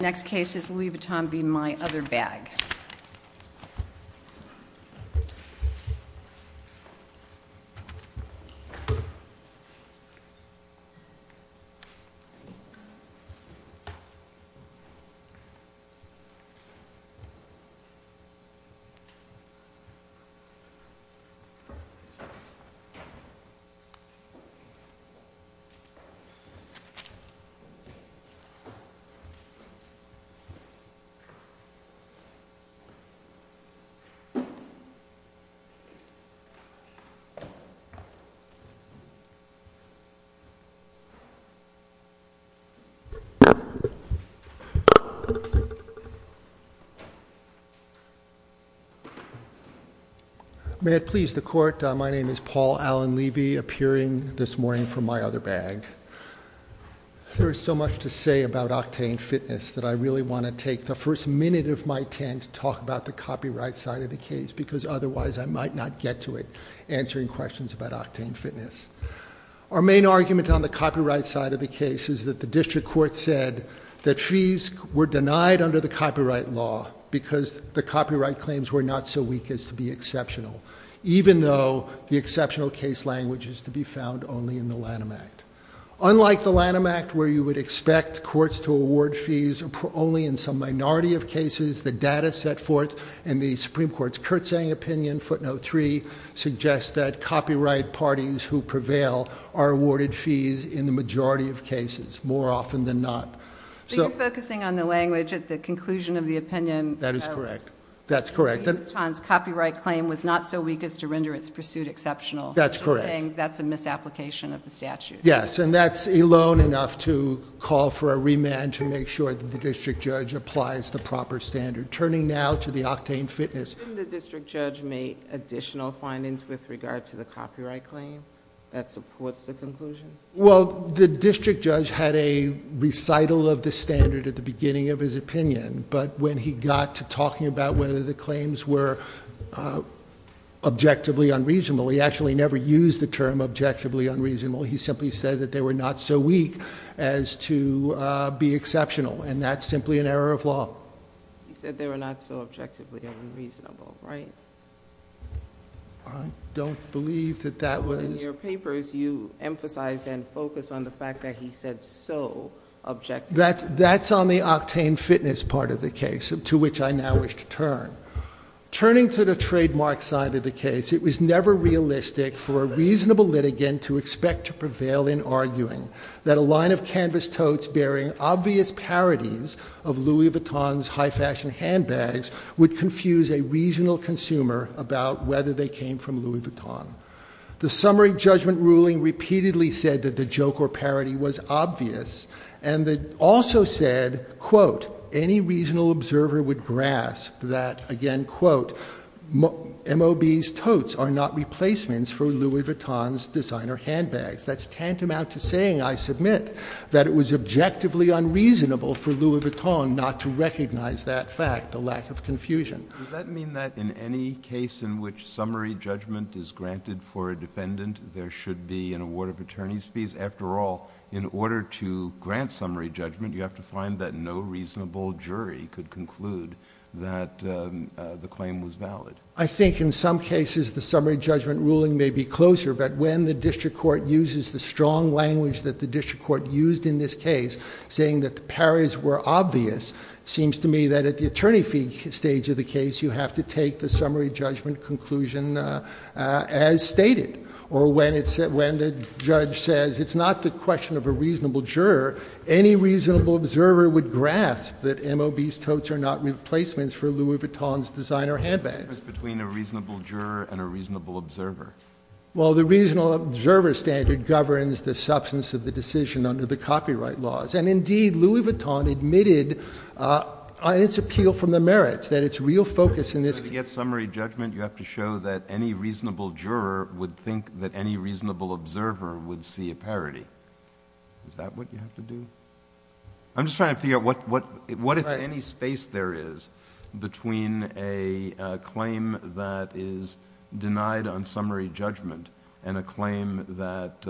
The next case is Louis Vuitton v. My Other Bag. May it please the Court, my name is Paul Allen Levy, appearing this morning from My Other Bag. There is so much to say about octane fitness that I really want to take the first minute of my tent to talk about the copyright side of the case because otherwise I might not get to it answering questions about octane fitness. Our main argument on the copyright side of the case is that the district court said that fees were denied under the copyright law because the copyright claims were not so weak as to be exceptional, even though the exceptional case language is to be found only in the Lanham Act. Unlike the Lanham Act, where you would expect courts to award fees only in some minority of cases, the data set forth in the Supreme Court's Kurtzang opinion, footnote 3, suggests that copyright parties who prevail are awarded fees in the majority of cases, more often than not. So you're focusing on the language at the conclusion of the opinion. That is correct. That's correct. The district judge's copyright claim was not so weak as to render its pursuit exceptional. That's correct. He's saying that's a misapplication of the statute. Yes, and that's alone enough to call for a remand to make sure that the district judge applies the proper standard. Turning now to the octane fitness... Didn't the district judge make additional findings with regard to the copyright claim that supports the conclusion? Well, the district judge had a recital of the standard at the beginning of his opinion, but when he got to talking about whether the claims were objectively unreasonable, he actually never used the term objectively unreasonable. He simply said that they were not so weak as to be exceptional, and that's simply an error of law. He said they were not so objectively unreasonable, right? I don't believe that that was... In your papers, you emphasize and focus on the fact that he said so objectively unreasonable. That's on the octane fitness part of the case, to which I now wish to turn. Turning to the trademark side of the case, it was never realistic for a reasonable litigant to expect to prevail in arguing that a line of canvas totes bearing obvious parodies of Louis Vuitton's high fashion handbags would confuse a regional consumer about whether they came from Louis Vuitton. The summary judgment ruling repeatedly said that the joke or parody was obvious, and that also said, quote, any regional observer would grasp that, again, quote, M.O.B.'s totes are not replacements for Louis Vuitton's designer handbags. That's tantamount to saying, I submit, that it was objectively unreasonable for Louis Vuitton not to recognize that fact, the lack of confusion. Does that mean that in any case in which summary judgment is granted for a defendant, there should be an award of attorney's fees? After all, in order to grant summary judgment, you have to find that no reasonable jury could conclude that the claim was valid. I think in some cases, the summary judgment ruling may be closer, but when the district court uses the strong language that the district court used in this case, saying that the parodies were obvious, it seems to me that at the attorney fee stage of the case, you have to take the summary judgment conclusion as stated. Or when the judge says, it's not the question of a reasonable juror, any reasonable observer would grasp that M.O.B.'s totes are not replacements for Louis Vuitton's designer handbags. It's between a reasonable juror and a reasonable observer. Well, the reasonable observer standard governs the substance of the decision under the copyright laws. And indeed, Louis Vuitton admitted on its appeal from the merits that its real focus in this case— In order to get summary judgment, you have to show that any reasonable juror would think that any reasonable observer would see a parody. Is that what you have to do? I'm just trying to figure out what if any space there is between a claim that is denied on summary judgment and a claim that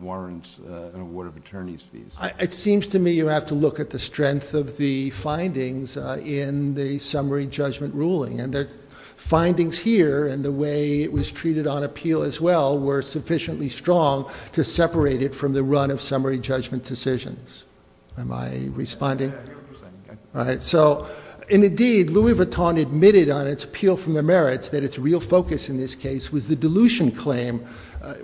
warrants an award of attorney's fees? It seems to me you have to look at the strength of the findings in the summary judgment ruling. And the findings here, and the way it was treated on appeal as well, were sufficiently strong to separate it from the run of summary judgment decisions. Am I responding? So indeed, Louis Vuitton admitted on its appeal from the merits that its real focus in this case was the dilution claim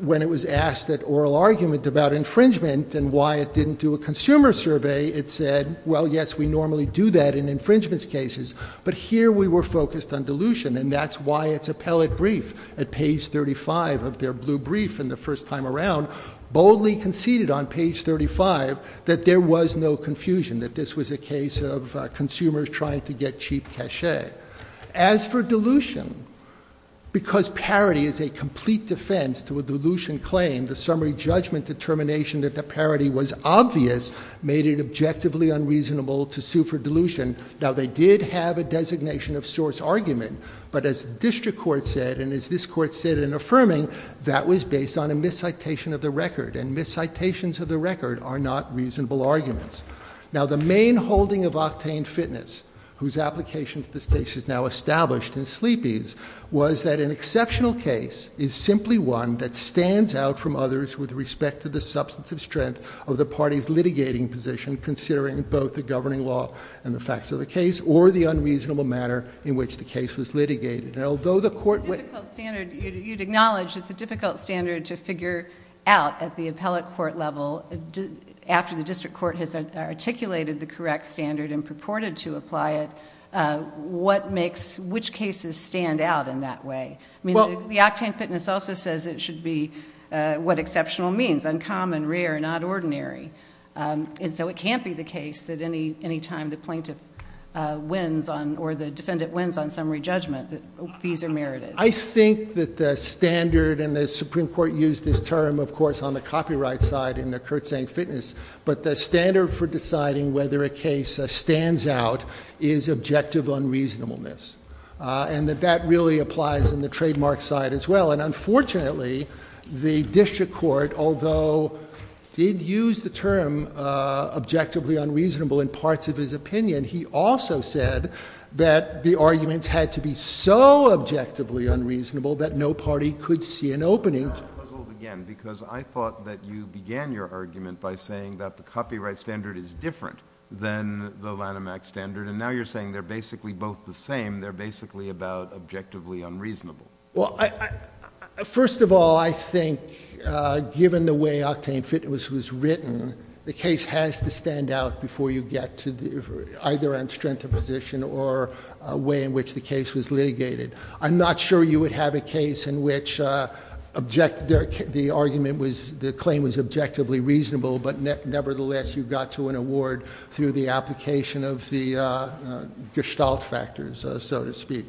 when it was asked at oral argument about infringement and why it didn't do a consumer survey. It said, well, yes, we normally do that in infringement cases, but here we were focused on dilution. And that's why its appellate brief at page 35 of their blue brief in the first time around boldly conceded on page 35 that there was no confusion, that this was a case of consumers trying to get cheap cachet. As for dilution, because parody is a complete defense to a dilution claim, the summary judgment determination that the parody was obvious made it objectively unreasonable to sue for dilution. Now, they did have a designation of source argument, but as district court said, and as this court said in affirming, that was based on a miscitation of the record. And miscitations of the record are not reasonable arguments. Now the main holding of Octane Fitness, whose application to this case is now established in Sleepy's, was that an exceptional case is simply one that stands out from others with respect to the substantive strength of the party's litigating position, considering both the governing law and the facts of the case, or the unreasonable matter in which the case was litigated. And although the court— It's a difficult standard. You'd acknowledge it's a difficult standard to figure out at the appellate court level after the district court has articulated the correct standard and purported to apply it, what makes, which cases stand out in that way? I mean, the Octane Fitness also says it should be what exceptional means, uncommon, rare, not ordinary. And so it can't be the case that any time the plaintiff wins on, or the defendant wins on summary judgment, that these are merited. I think that the standard, and the Supreme Court used this term, of course, on the copyright side in the Kurtzank Fitness, but the standard for deciding whether a case stands out is objective unreasonableness. And that that really applies in the trademark side as well. And unfortunately, the district court, although did use the term objectively unreasonable in parts of his opinion, he also said that the arguments had to be so objectively unreasonable that no party could see an opening. That's the puzzle again, because I thought that you began your argument by saying that the copyright standard is different than the Lanham Act standard, and now you're saying they're basically both the same. They're basically about objectively unreasonable. Well, first of all, I think given the way Octane Fitness was written, the case has to stand out before you get to either on strength of position or a way in which the case was litigated. I'm not sure you would have a case in which the argument was, the claim was objectively reasonable, but nevertheless, you got to an award through the application of the gestalt factors, so to speak.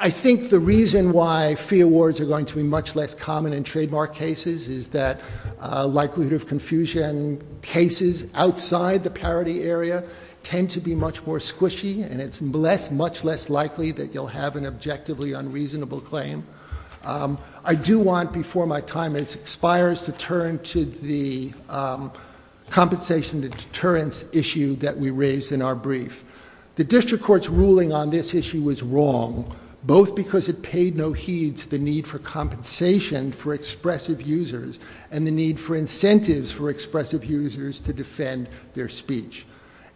I think the reason why fee awards are going to be much less common in trademark cases is that likelihood of confusion cases outside the parity area tend to be much more squishy, and it's much less likely that you'll have an objectively unreasonable claim. I do want, before my time expires, to turn to the compensation to deterrence issue that we raised in our brief. The district court's ruling on this issue was wrong, both because it paid no heed to the need for compensation for expressive users and the need for incentives for expressive users to defend their speech,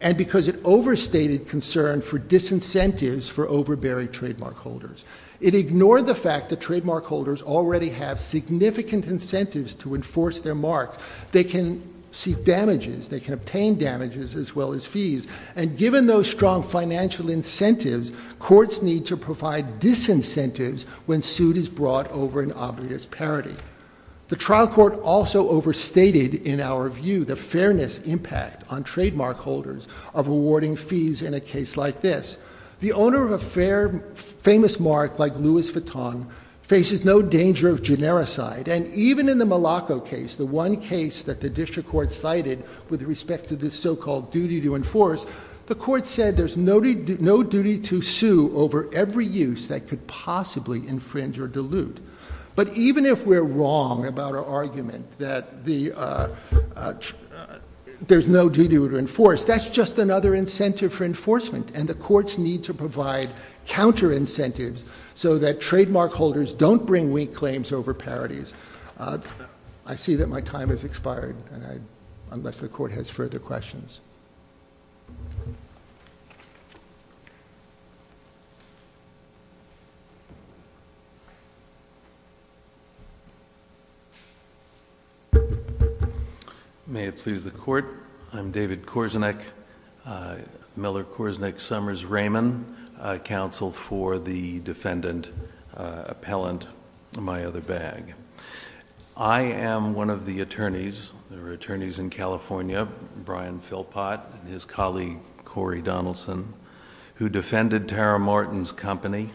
and because it overstated concern for disincentives for overbearing trademark holders. It ignored the fact that trademark holders already have significant incentives to enforce their mark. They can seek damages. They can obtain damages as well as fees, and given those strong financial incentives, courts need to provide disincentives when suit is brought over an obvious parity. The trial court also overstated, in our view, the fairness impact on trademark holders of awarding fees in a case like this. The owner of a famous mark like Louis Vuitton faces no danger of genericide, and even in the Malaco case, the one case that the district court cited with respect to this so-called duty to enforce, the court said there's no duty to sue over every use that could possibly infringe or dilute. But even if we're wrong about our argument that there's no duty to enforce, that's just another incentive for enforcement, and the courts need to provide counter-incentives so that trademark holders don't bring weak claims over parities. I see that my time has expired, and I—unless the court has further questions. May it please the court, I'm David Korzenich, Miller-Korzenich-Summers-Raymond, counsel for the defendant appellant in my other bag. I am one of the attorneys, there are attorneys in California, Brian Philpott and his colleague Corey Donaldson, who defended Tara Martin's company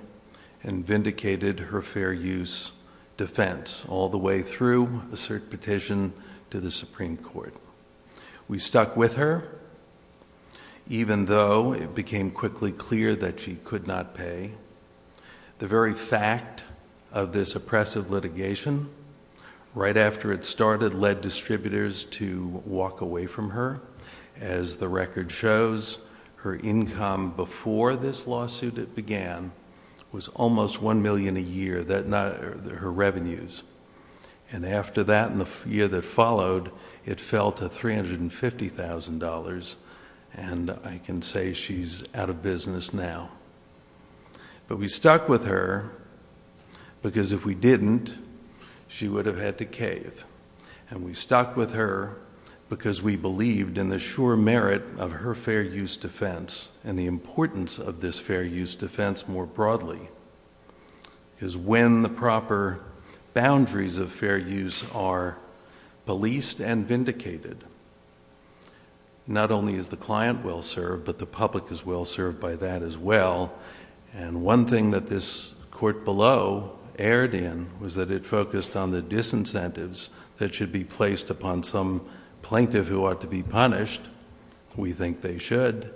and vindicated her fair use defense all the way through a cert petition to the Supreme Court. We stuck with her, even though it became quickly clear that she could not pay. The very fact of this oppressive litigation, right after it started, led distributors to walk away from her. As the record shows, her income before this lawsuit began was almost $1 million a year, her revenues. And after that, in the year that followed, it fell to $350,000, and I can say she's out of business now. But we stuck with her, because if we didn't, she would have had to cave. And we stuck with her, because we believed in the sure merit of her fair use defense, and the importance of this fair use defense more broadly, is when the proper boundaries of fair use are policed and vindicated. Not only is the client well served, but the public is well served by that as well. And one thing that this court below erred in was that it focused on the disincentives that should be placed upon some plaintiff who ought to be punished. We think they should.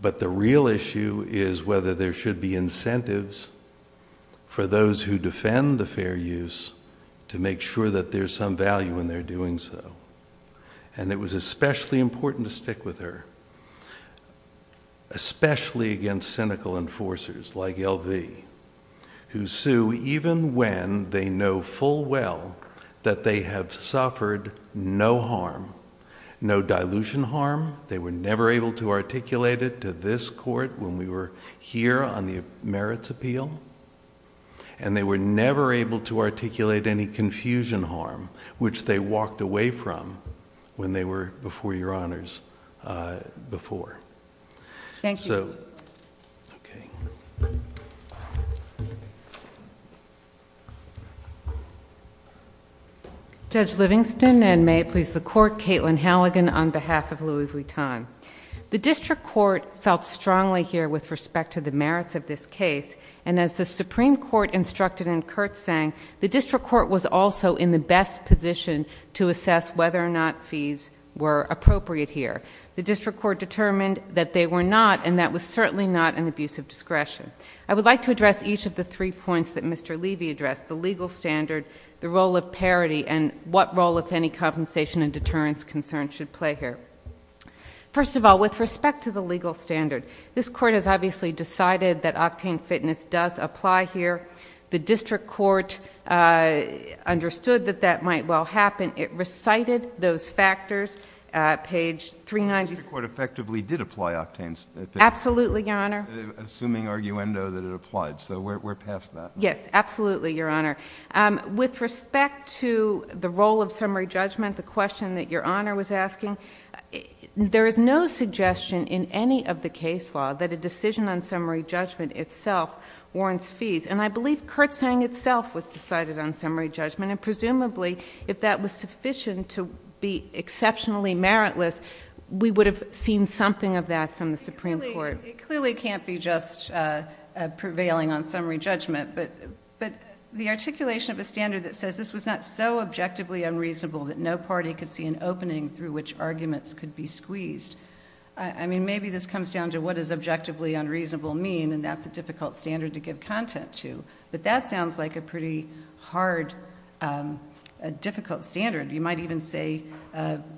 But the real issue is whether there should be incentives for those who defend the fair use to make sure that there's some value in their doing so. And it was especially important to stick with her. Especially against cynical enforcers like L.V., who sue even when they know full well that they have suffered no harm, no dilution harm. They were never able to articulate it to this court when we were here on the merits appeal. And they were never able to articulate any confusion harm, which they walked away from when they were before your honors before. Thank you, Your Honor. Judge Livingston, and may it please the court, Katelyn Halligan on behalf of Louis Vuitton. The district court felt strongly here with respect to the merits of this case, and as the Supreme Court instructed in Kurtz's saying, the district court was also in the best position to assess whether or not fees were appropriate here. The district court determined that they were not, and that was certainly not an abuse of discretion. I would like to address each of the three points that Mr. Levy addressed. The legal standard, the role of parity, and what role, if any, compensation and deterrence concerns should play here. First of all, with respect to the legal standard. This court has obviously decided that octane fitness does apply here. The district court understood that that might well happen. It recited those factors, page 396. The district court effectively did apply octanes. Absolutely, Your Honor. Assuming arguendo that it applied, so we're past that. Yes, absolutely, Your Honor. With respect to the role of summary judgment, the question that Your Honor was asking, there is no suggestion in any of the case law that a decision on summary judgment itself warrants fees. And I believe Kurtz's saying itself was decided on summary judgment, and presumably, if that was sufficient to be exceptionally meritless, we would have seen something of that from the Supreme Court. It clearly can't be just prevailing on summary judgment. But the articulation of a standard that says this was not so that arguments could be squeezed, I mean, maybe this comes down to what is objectively unreasonable mean, and that's a difficult standard to give content to, but that sounds like a pretty hard, difficult standard. You might even say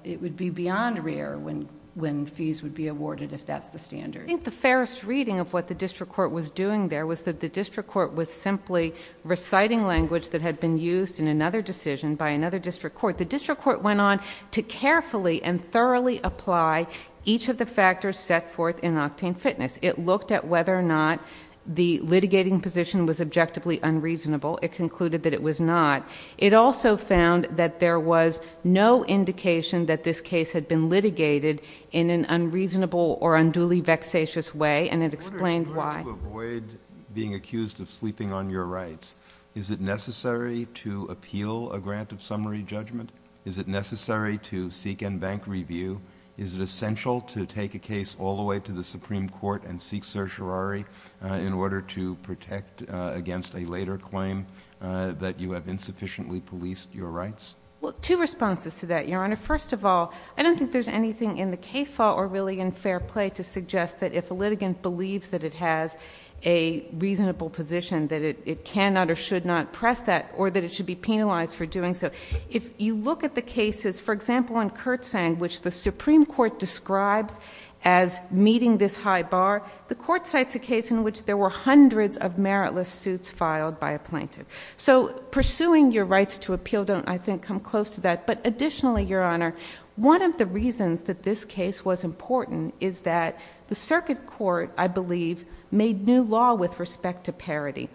it would be beyond rare when fees would be awarded if that's the standard. I think the fairest reading of what the district court was doing there was that the district court was simply reciting language that had been used in another decision by another district court. The district court went on to carefully and thoroughly apply each of the factors set forth in Octane Fitness. It looked at whether or not the litigating position was objectively unreasonable. It concluded that it was not. It also found that there was no indication that this case had been litigated in an unreasonable or unduly vexatious way, and it explained why. To avoid being accused of sleeping on your rights, is it necessary to appeal a grant of summary judgment? Is it necessary to seek in-bank review? Is it essential to take a case all the way to the Supreme Court and seek certiorari in order to protect against a later claim that you have insufficiently policed your rights? Well, two responses to that, Your Honor. First of all, I don't think there's anything in the case law or really in fair play to suggest that if a litigant believes that it has a reasonable position that it cannot or should not press that, or that it should be penalized for doing so. If you look at the cases, for example, in Kurtzang, which the Supreme Court describes as meeting this high bar, the court cites a case in which there were hundreds of meritless suits filed by a plaintiff. So pursuing your rights to appeal don't, I think, come close to that. But additionally, Your Honor, one of the reasons that this case was important is that the circuit court, I believe, made new law with respect to parody.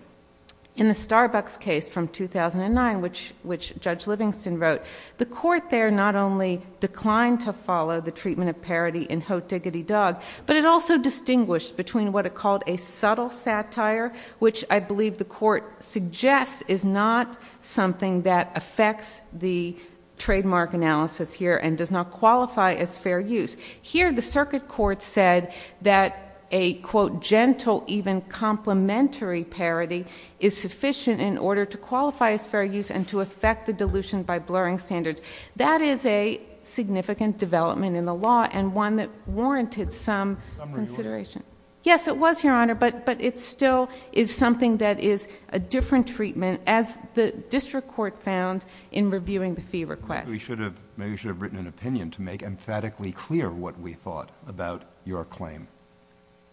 In the Starbucks case from 2009, which Judge Livingston wrote, the court there not only declined to follow the treatment of parody in Ho Diggity Dog, but it also distinguished between what it called a subtle satire, which I believe the court suggests is not something that affects the trademark analysis here and does not qualify as fair use. Here, the circuit court said that a, quote, gentle, even complimentary parody is sufficient in order to qualify as fair use and to affect the dilution by blurring standards. That is a significant development in the law and one that warranted some consideration. Yes, it was, Your Honor, but it still is something that is a different treatment as the district court found in reviewing the fee request. We should have, maybe we should have written an opinion to make emphatically clear what we thought about your claim.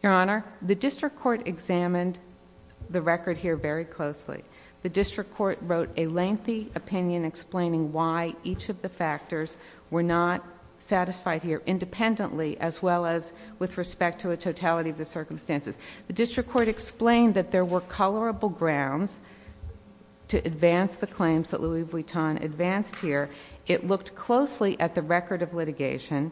Your Honor, the district court examined the record here very closely. The district court wrote a lengthy opinion explaining why each of the factors were not satisfied here independently as well as with respect to a totality of the circumstances. The district court explained that there were colorable grounds to advance the claims that Louis Vuitton advanced here. It looked closely at the record of litigation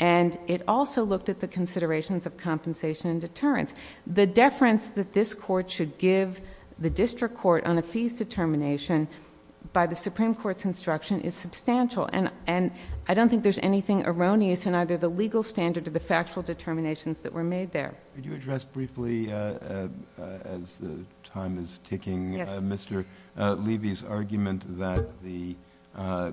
and it also looked at the considerations of compensation and deterrence. The deference that this court should give the district court on a fees determination by the Supreme Court's instruction is substantial, and I don't think there's anything erroneous in either the legal standard or the factual determinations that were made there. Could you address briefly, as the time is ticking, Mr. Levy's argument that the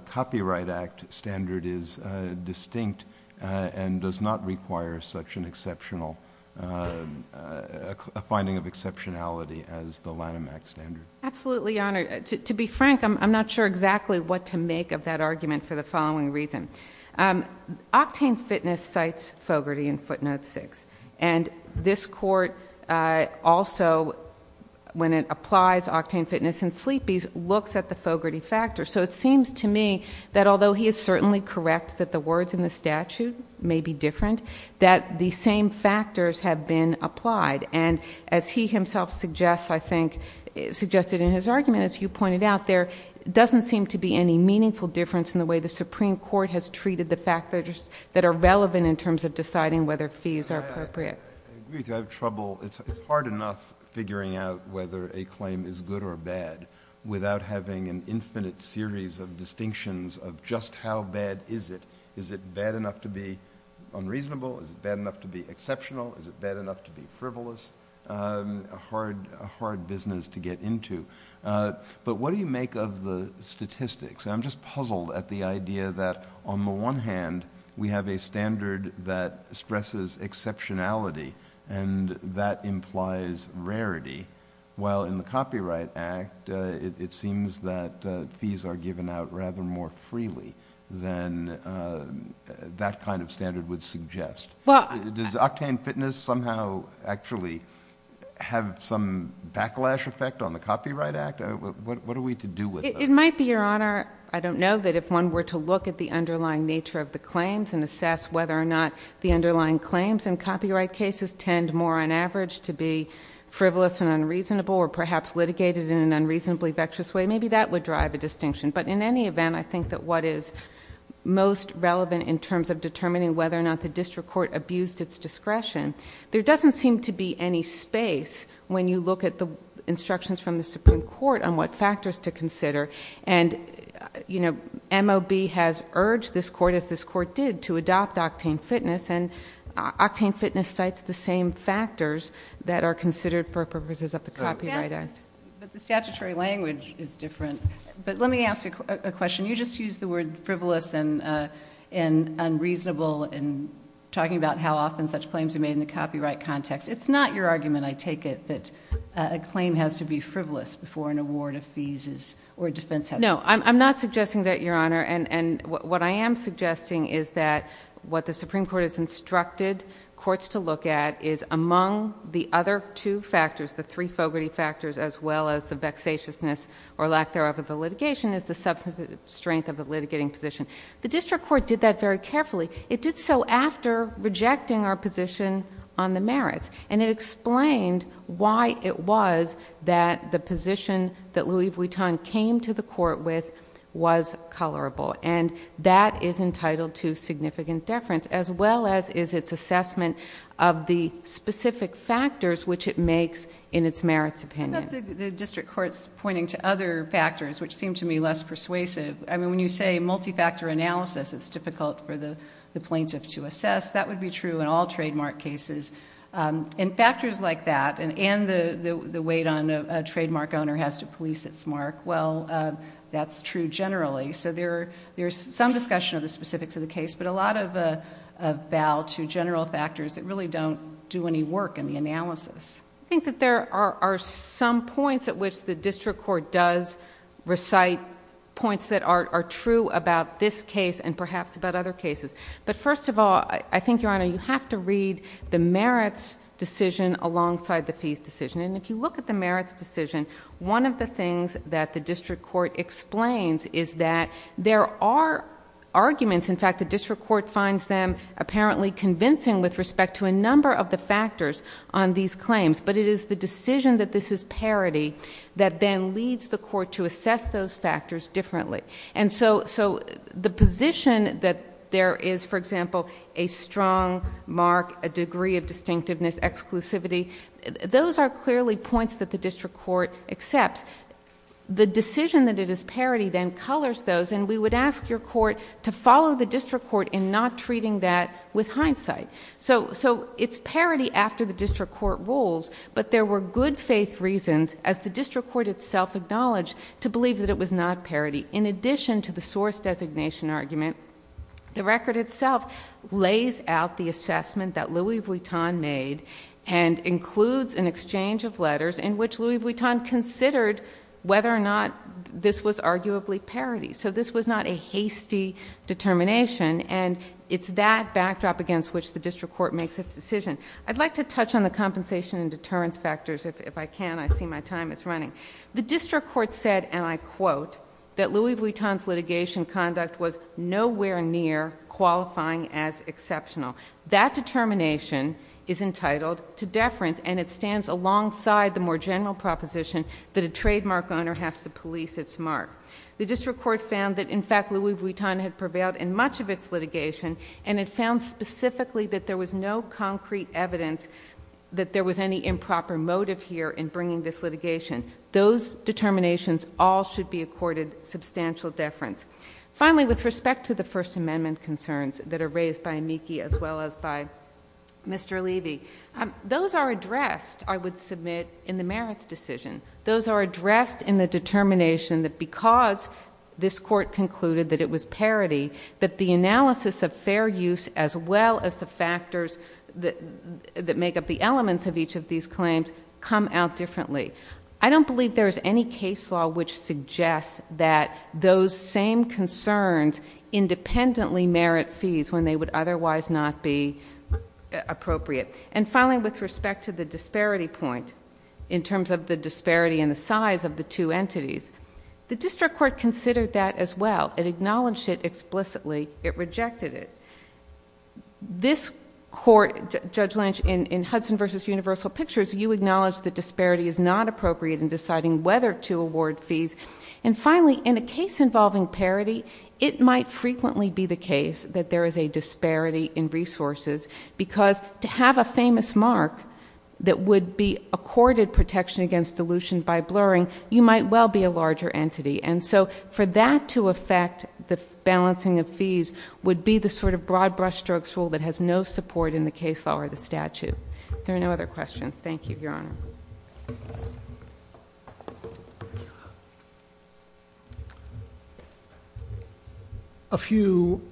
Copyright Act standard is distinct and does not require such an exceptional, a finding of exceptionality as the Lanham Act standard. Absolutely, Your Honor. To be frank, I'm not sure exactly what to make of that argument for the following reason. Octane Fitness cites Fogarty in footnote six. And this court also, when it applies Octane Fitness and Sleepy's, looks at the Fogarty factor, so it seems to me that although he is certainly correct that the words in the statute may be different, that the same factors have been applied. And as he himself suggests, I think, suggested in his argument, as you pointed out, there doesn't seem to be any meaningful difference in the way the Supreme Court has treated the factors that are relevant in terms of deciding whether fees are appropriate. I agree with you, I have trouble, it's hard enough figuring out whether a claim is good or bad without having an infinite series of distinctions of just how bad is it. Is it bad enough to be unreasonable? Is it bad enough to be exceptional? Is it bad enough to be frivolous? A hard business to get into. But what do you make of the statistics? I'm just puzzled at the idea that on the one hand, we have a standard that stresses exceptionality, and that implies rarity, while in the Copyright Act, it seems that fees are given out rather more freely than that kind of standard would suggest. Does Octane Fitness somehow actually have some backlash effect on the Copyright Act? What are we to do with it? It might be, Your Honor, I don't know, that if one were to look at the underlying nature of the claims and assess whether or not the underlying claims in copyright cases tend more on average to be frivolous and unreasonable or perhaps litigated in an unreasonably vexed way, maybe that would drive a distinction. But in any event, I think that what is most relevant in terms of determining whether or not the district court abused its discretion, there doesn't seem to be any space when you look at the instructions from the Supreme Court on what factors to consider. And MOB has urged this court, as this court did, to adopt Octane Fitness. And Octane Fitness cites the same factors that are considered for purposes of the copyright act. But the statutory language is different. But let me ask you a question. You just used the word frivolous and unreasonable in talking about how often such claims are made in the copyright context. It's not your argument, I take it, that a claim has to be frivolous before an award of fees or a defense has to be made. No, I'm not suggesting that, Your Honor. And what I am suggesting is that what the Supreme Court has instructed courts to look at is among the other two factors, the three Fogarty factors as well as the vexatiousness or lack thereof of the litigation is the substantive strength of the litigating position. The district court did that very carefully. It did so after rejecting our position on the merits. And it explained why it was that the position that Louis Vuitton came to the court with was colorable. And that is entitled to significant deference as well as is its assessment of the specific factors which it makes in its merits opinion. The district court's pointing to other factors which seem to me less persuasive. I mean, when you say multi-factor analysis, it's difficult for the plaintiff to assess. That would be true in all trademark cases. In factors like that, and the weight on a trademark owner has to police its mark, well, that's true generally. So there's some discussion of the specifics of the case, but a lot of a bow to general factors that really don't do any work in the analysis. I think that there are some points at which the district court does recite points that are true about this case and perhaps about other cases. But first of all, I think, Your Honor, you have to read the merits decision alongside the fees decision. And if you look at the merits decision, one of the things that the district court explains is that there are arguments. In fact, the district court finds them apparently convincing with respect to a number of the factors on these claims. But it is the decision that this is parity that then leads the court to assess those factors differently. And so the position that there is, for example, a strong mark, a degree of distinctiveness, exclusivity, those are clearly points that the district court accepts. The decision that it is parity then colors those, and we would ask your court to follow the district court in not treating that with hindsight. So it's parity after the district court rules, but there were good faith reasons, as the district court itself acknowledged, to believe that it was not parity. In addition to the source designation argument, the record itself lays out the assessment that Louis Vuitton made and includes an exchange of letters in which Louis Vuitton considered whether or not this was arguably parity. So this was not a hasty determination, and it's that backdrop against which the district court makes its decision. I'd like to touch on the compensation and deterrence factors, if I can, I see my time is running. The district court said, and I quote, that Louis Vuitton's litigation conduct was nowhere near qualifying as exceptional. That determination is entitled to deference, and it stands alongside the more general proposition that a trademark owner has to police its mark. The district court found that, in fact, Louis Vuitton had prevailed in much of its litigation, and it found specifically that there was no concrete evidence that there was any improper motive here in bringing this litigation. Those determinations all should be accorded substantial deference. Finally, with respect to the First Amendment concerns that are raised by Miki as well as by Mr. Levy. Those are addressed, I would submit, in the merits decision. Those are addressed in the determination that because this court concluded that it was parity, that the analysis of fair use as well as the factors that make up the elements of each of these claims come out differently. I don't believe there is any case law which suggests that those same concerns independently merit fees when they would otherwise not be appropriate. And finally, with respect to the disparity point, in terms of the disparity in the size of the two entities. The district court considered that as well. It acknowledged it explicitly. It rejected it. This court, Judge Lynch, in Hudson versus Universal Pictures, you acknowledge that disparity is not appropriate in deciding whether to award fees. And finally, in a case involving parity, it might frequently be the case that there is a disparity in resources. Because to have a famous mark that would be accorded protection against dilution by blurring, you might well be a larger entity. And so for that to affect the balancing of fees would be the sort of broad brush strokes rule that has no support in the case law or the statute. There are no other questions. Thank you, Your Honor. A few,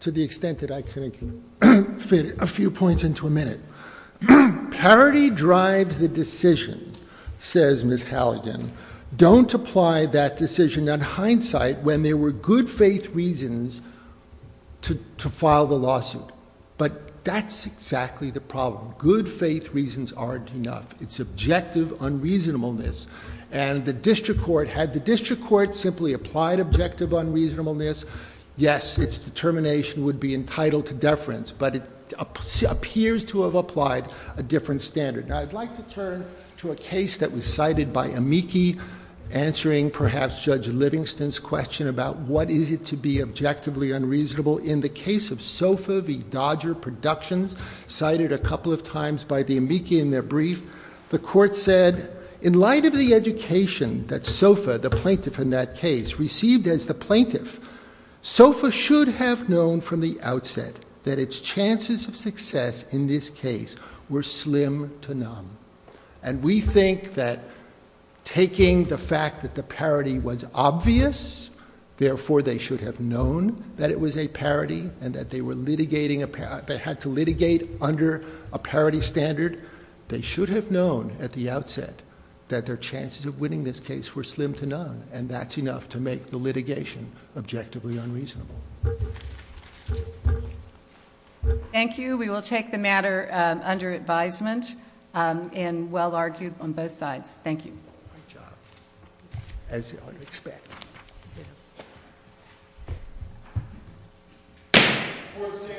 to the extent that I can fit a few points into a minute. Parity drives the decision, says Ms. Halligan. Don't apply that decision in hindsight when there were good faith reasons to file the lawsuit. But that's exactly the problem. Good faith reasons aren't enough. It's objective unreasonableness. And the district court, had the district court simply applied objective unreasonableness, yes, its determination would be entitled to deference, but it appears to have applied a different standard. Now I'd like to turn to a case that was cited by Amici, answering perhaps Judge Livingston's question about what is it to be objectively unreasonable. In the case of Sofa v. Dodger Productions, cited a couple of times by the Amici in their brief. The court said, in light of the education that Sofa, the plaintiff in that case, received as the plaintiff. Sofa should have known from the outset that its chances of success in this case were slim to none. And we think that taking the fact that the parity was obvious, therefore they should have known that it was a parity and that they were litigating, they had to litigate under a parity standard, they should have known at the outset that their chances of winning this case were slim to none, and that's enough to make the litigation objectively unreasonable. Thank you, we will take the matter under advisement, and well argued on both sides. Thank you. Great job, as I would expect. Thank you. Court is adjourned.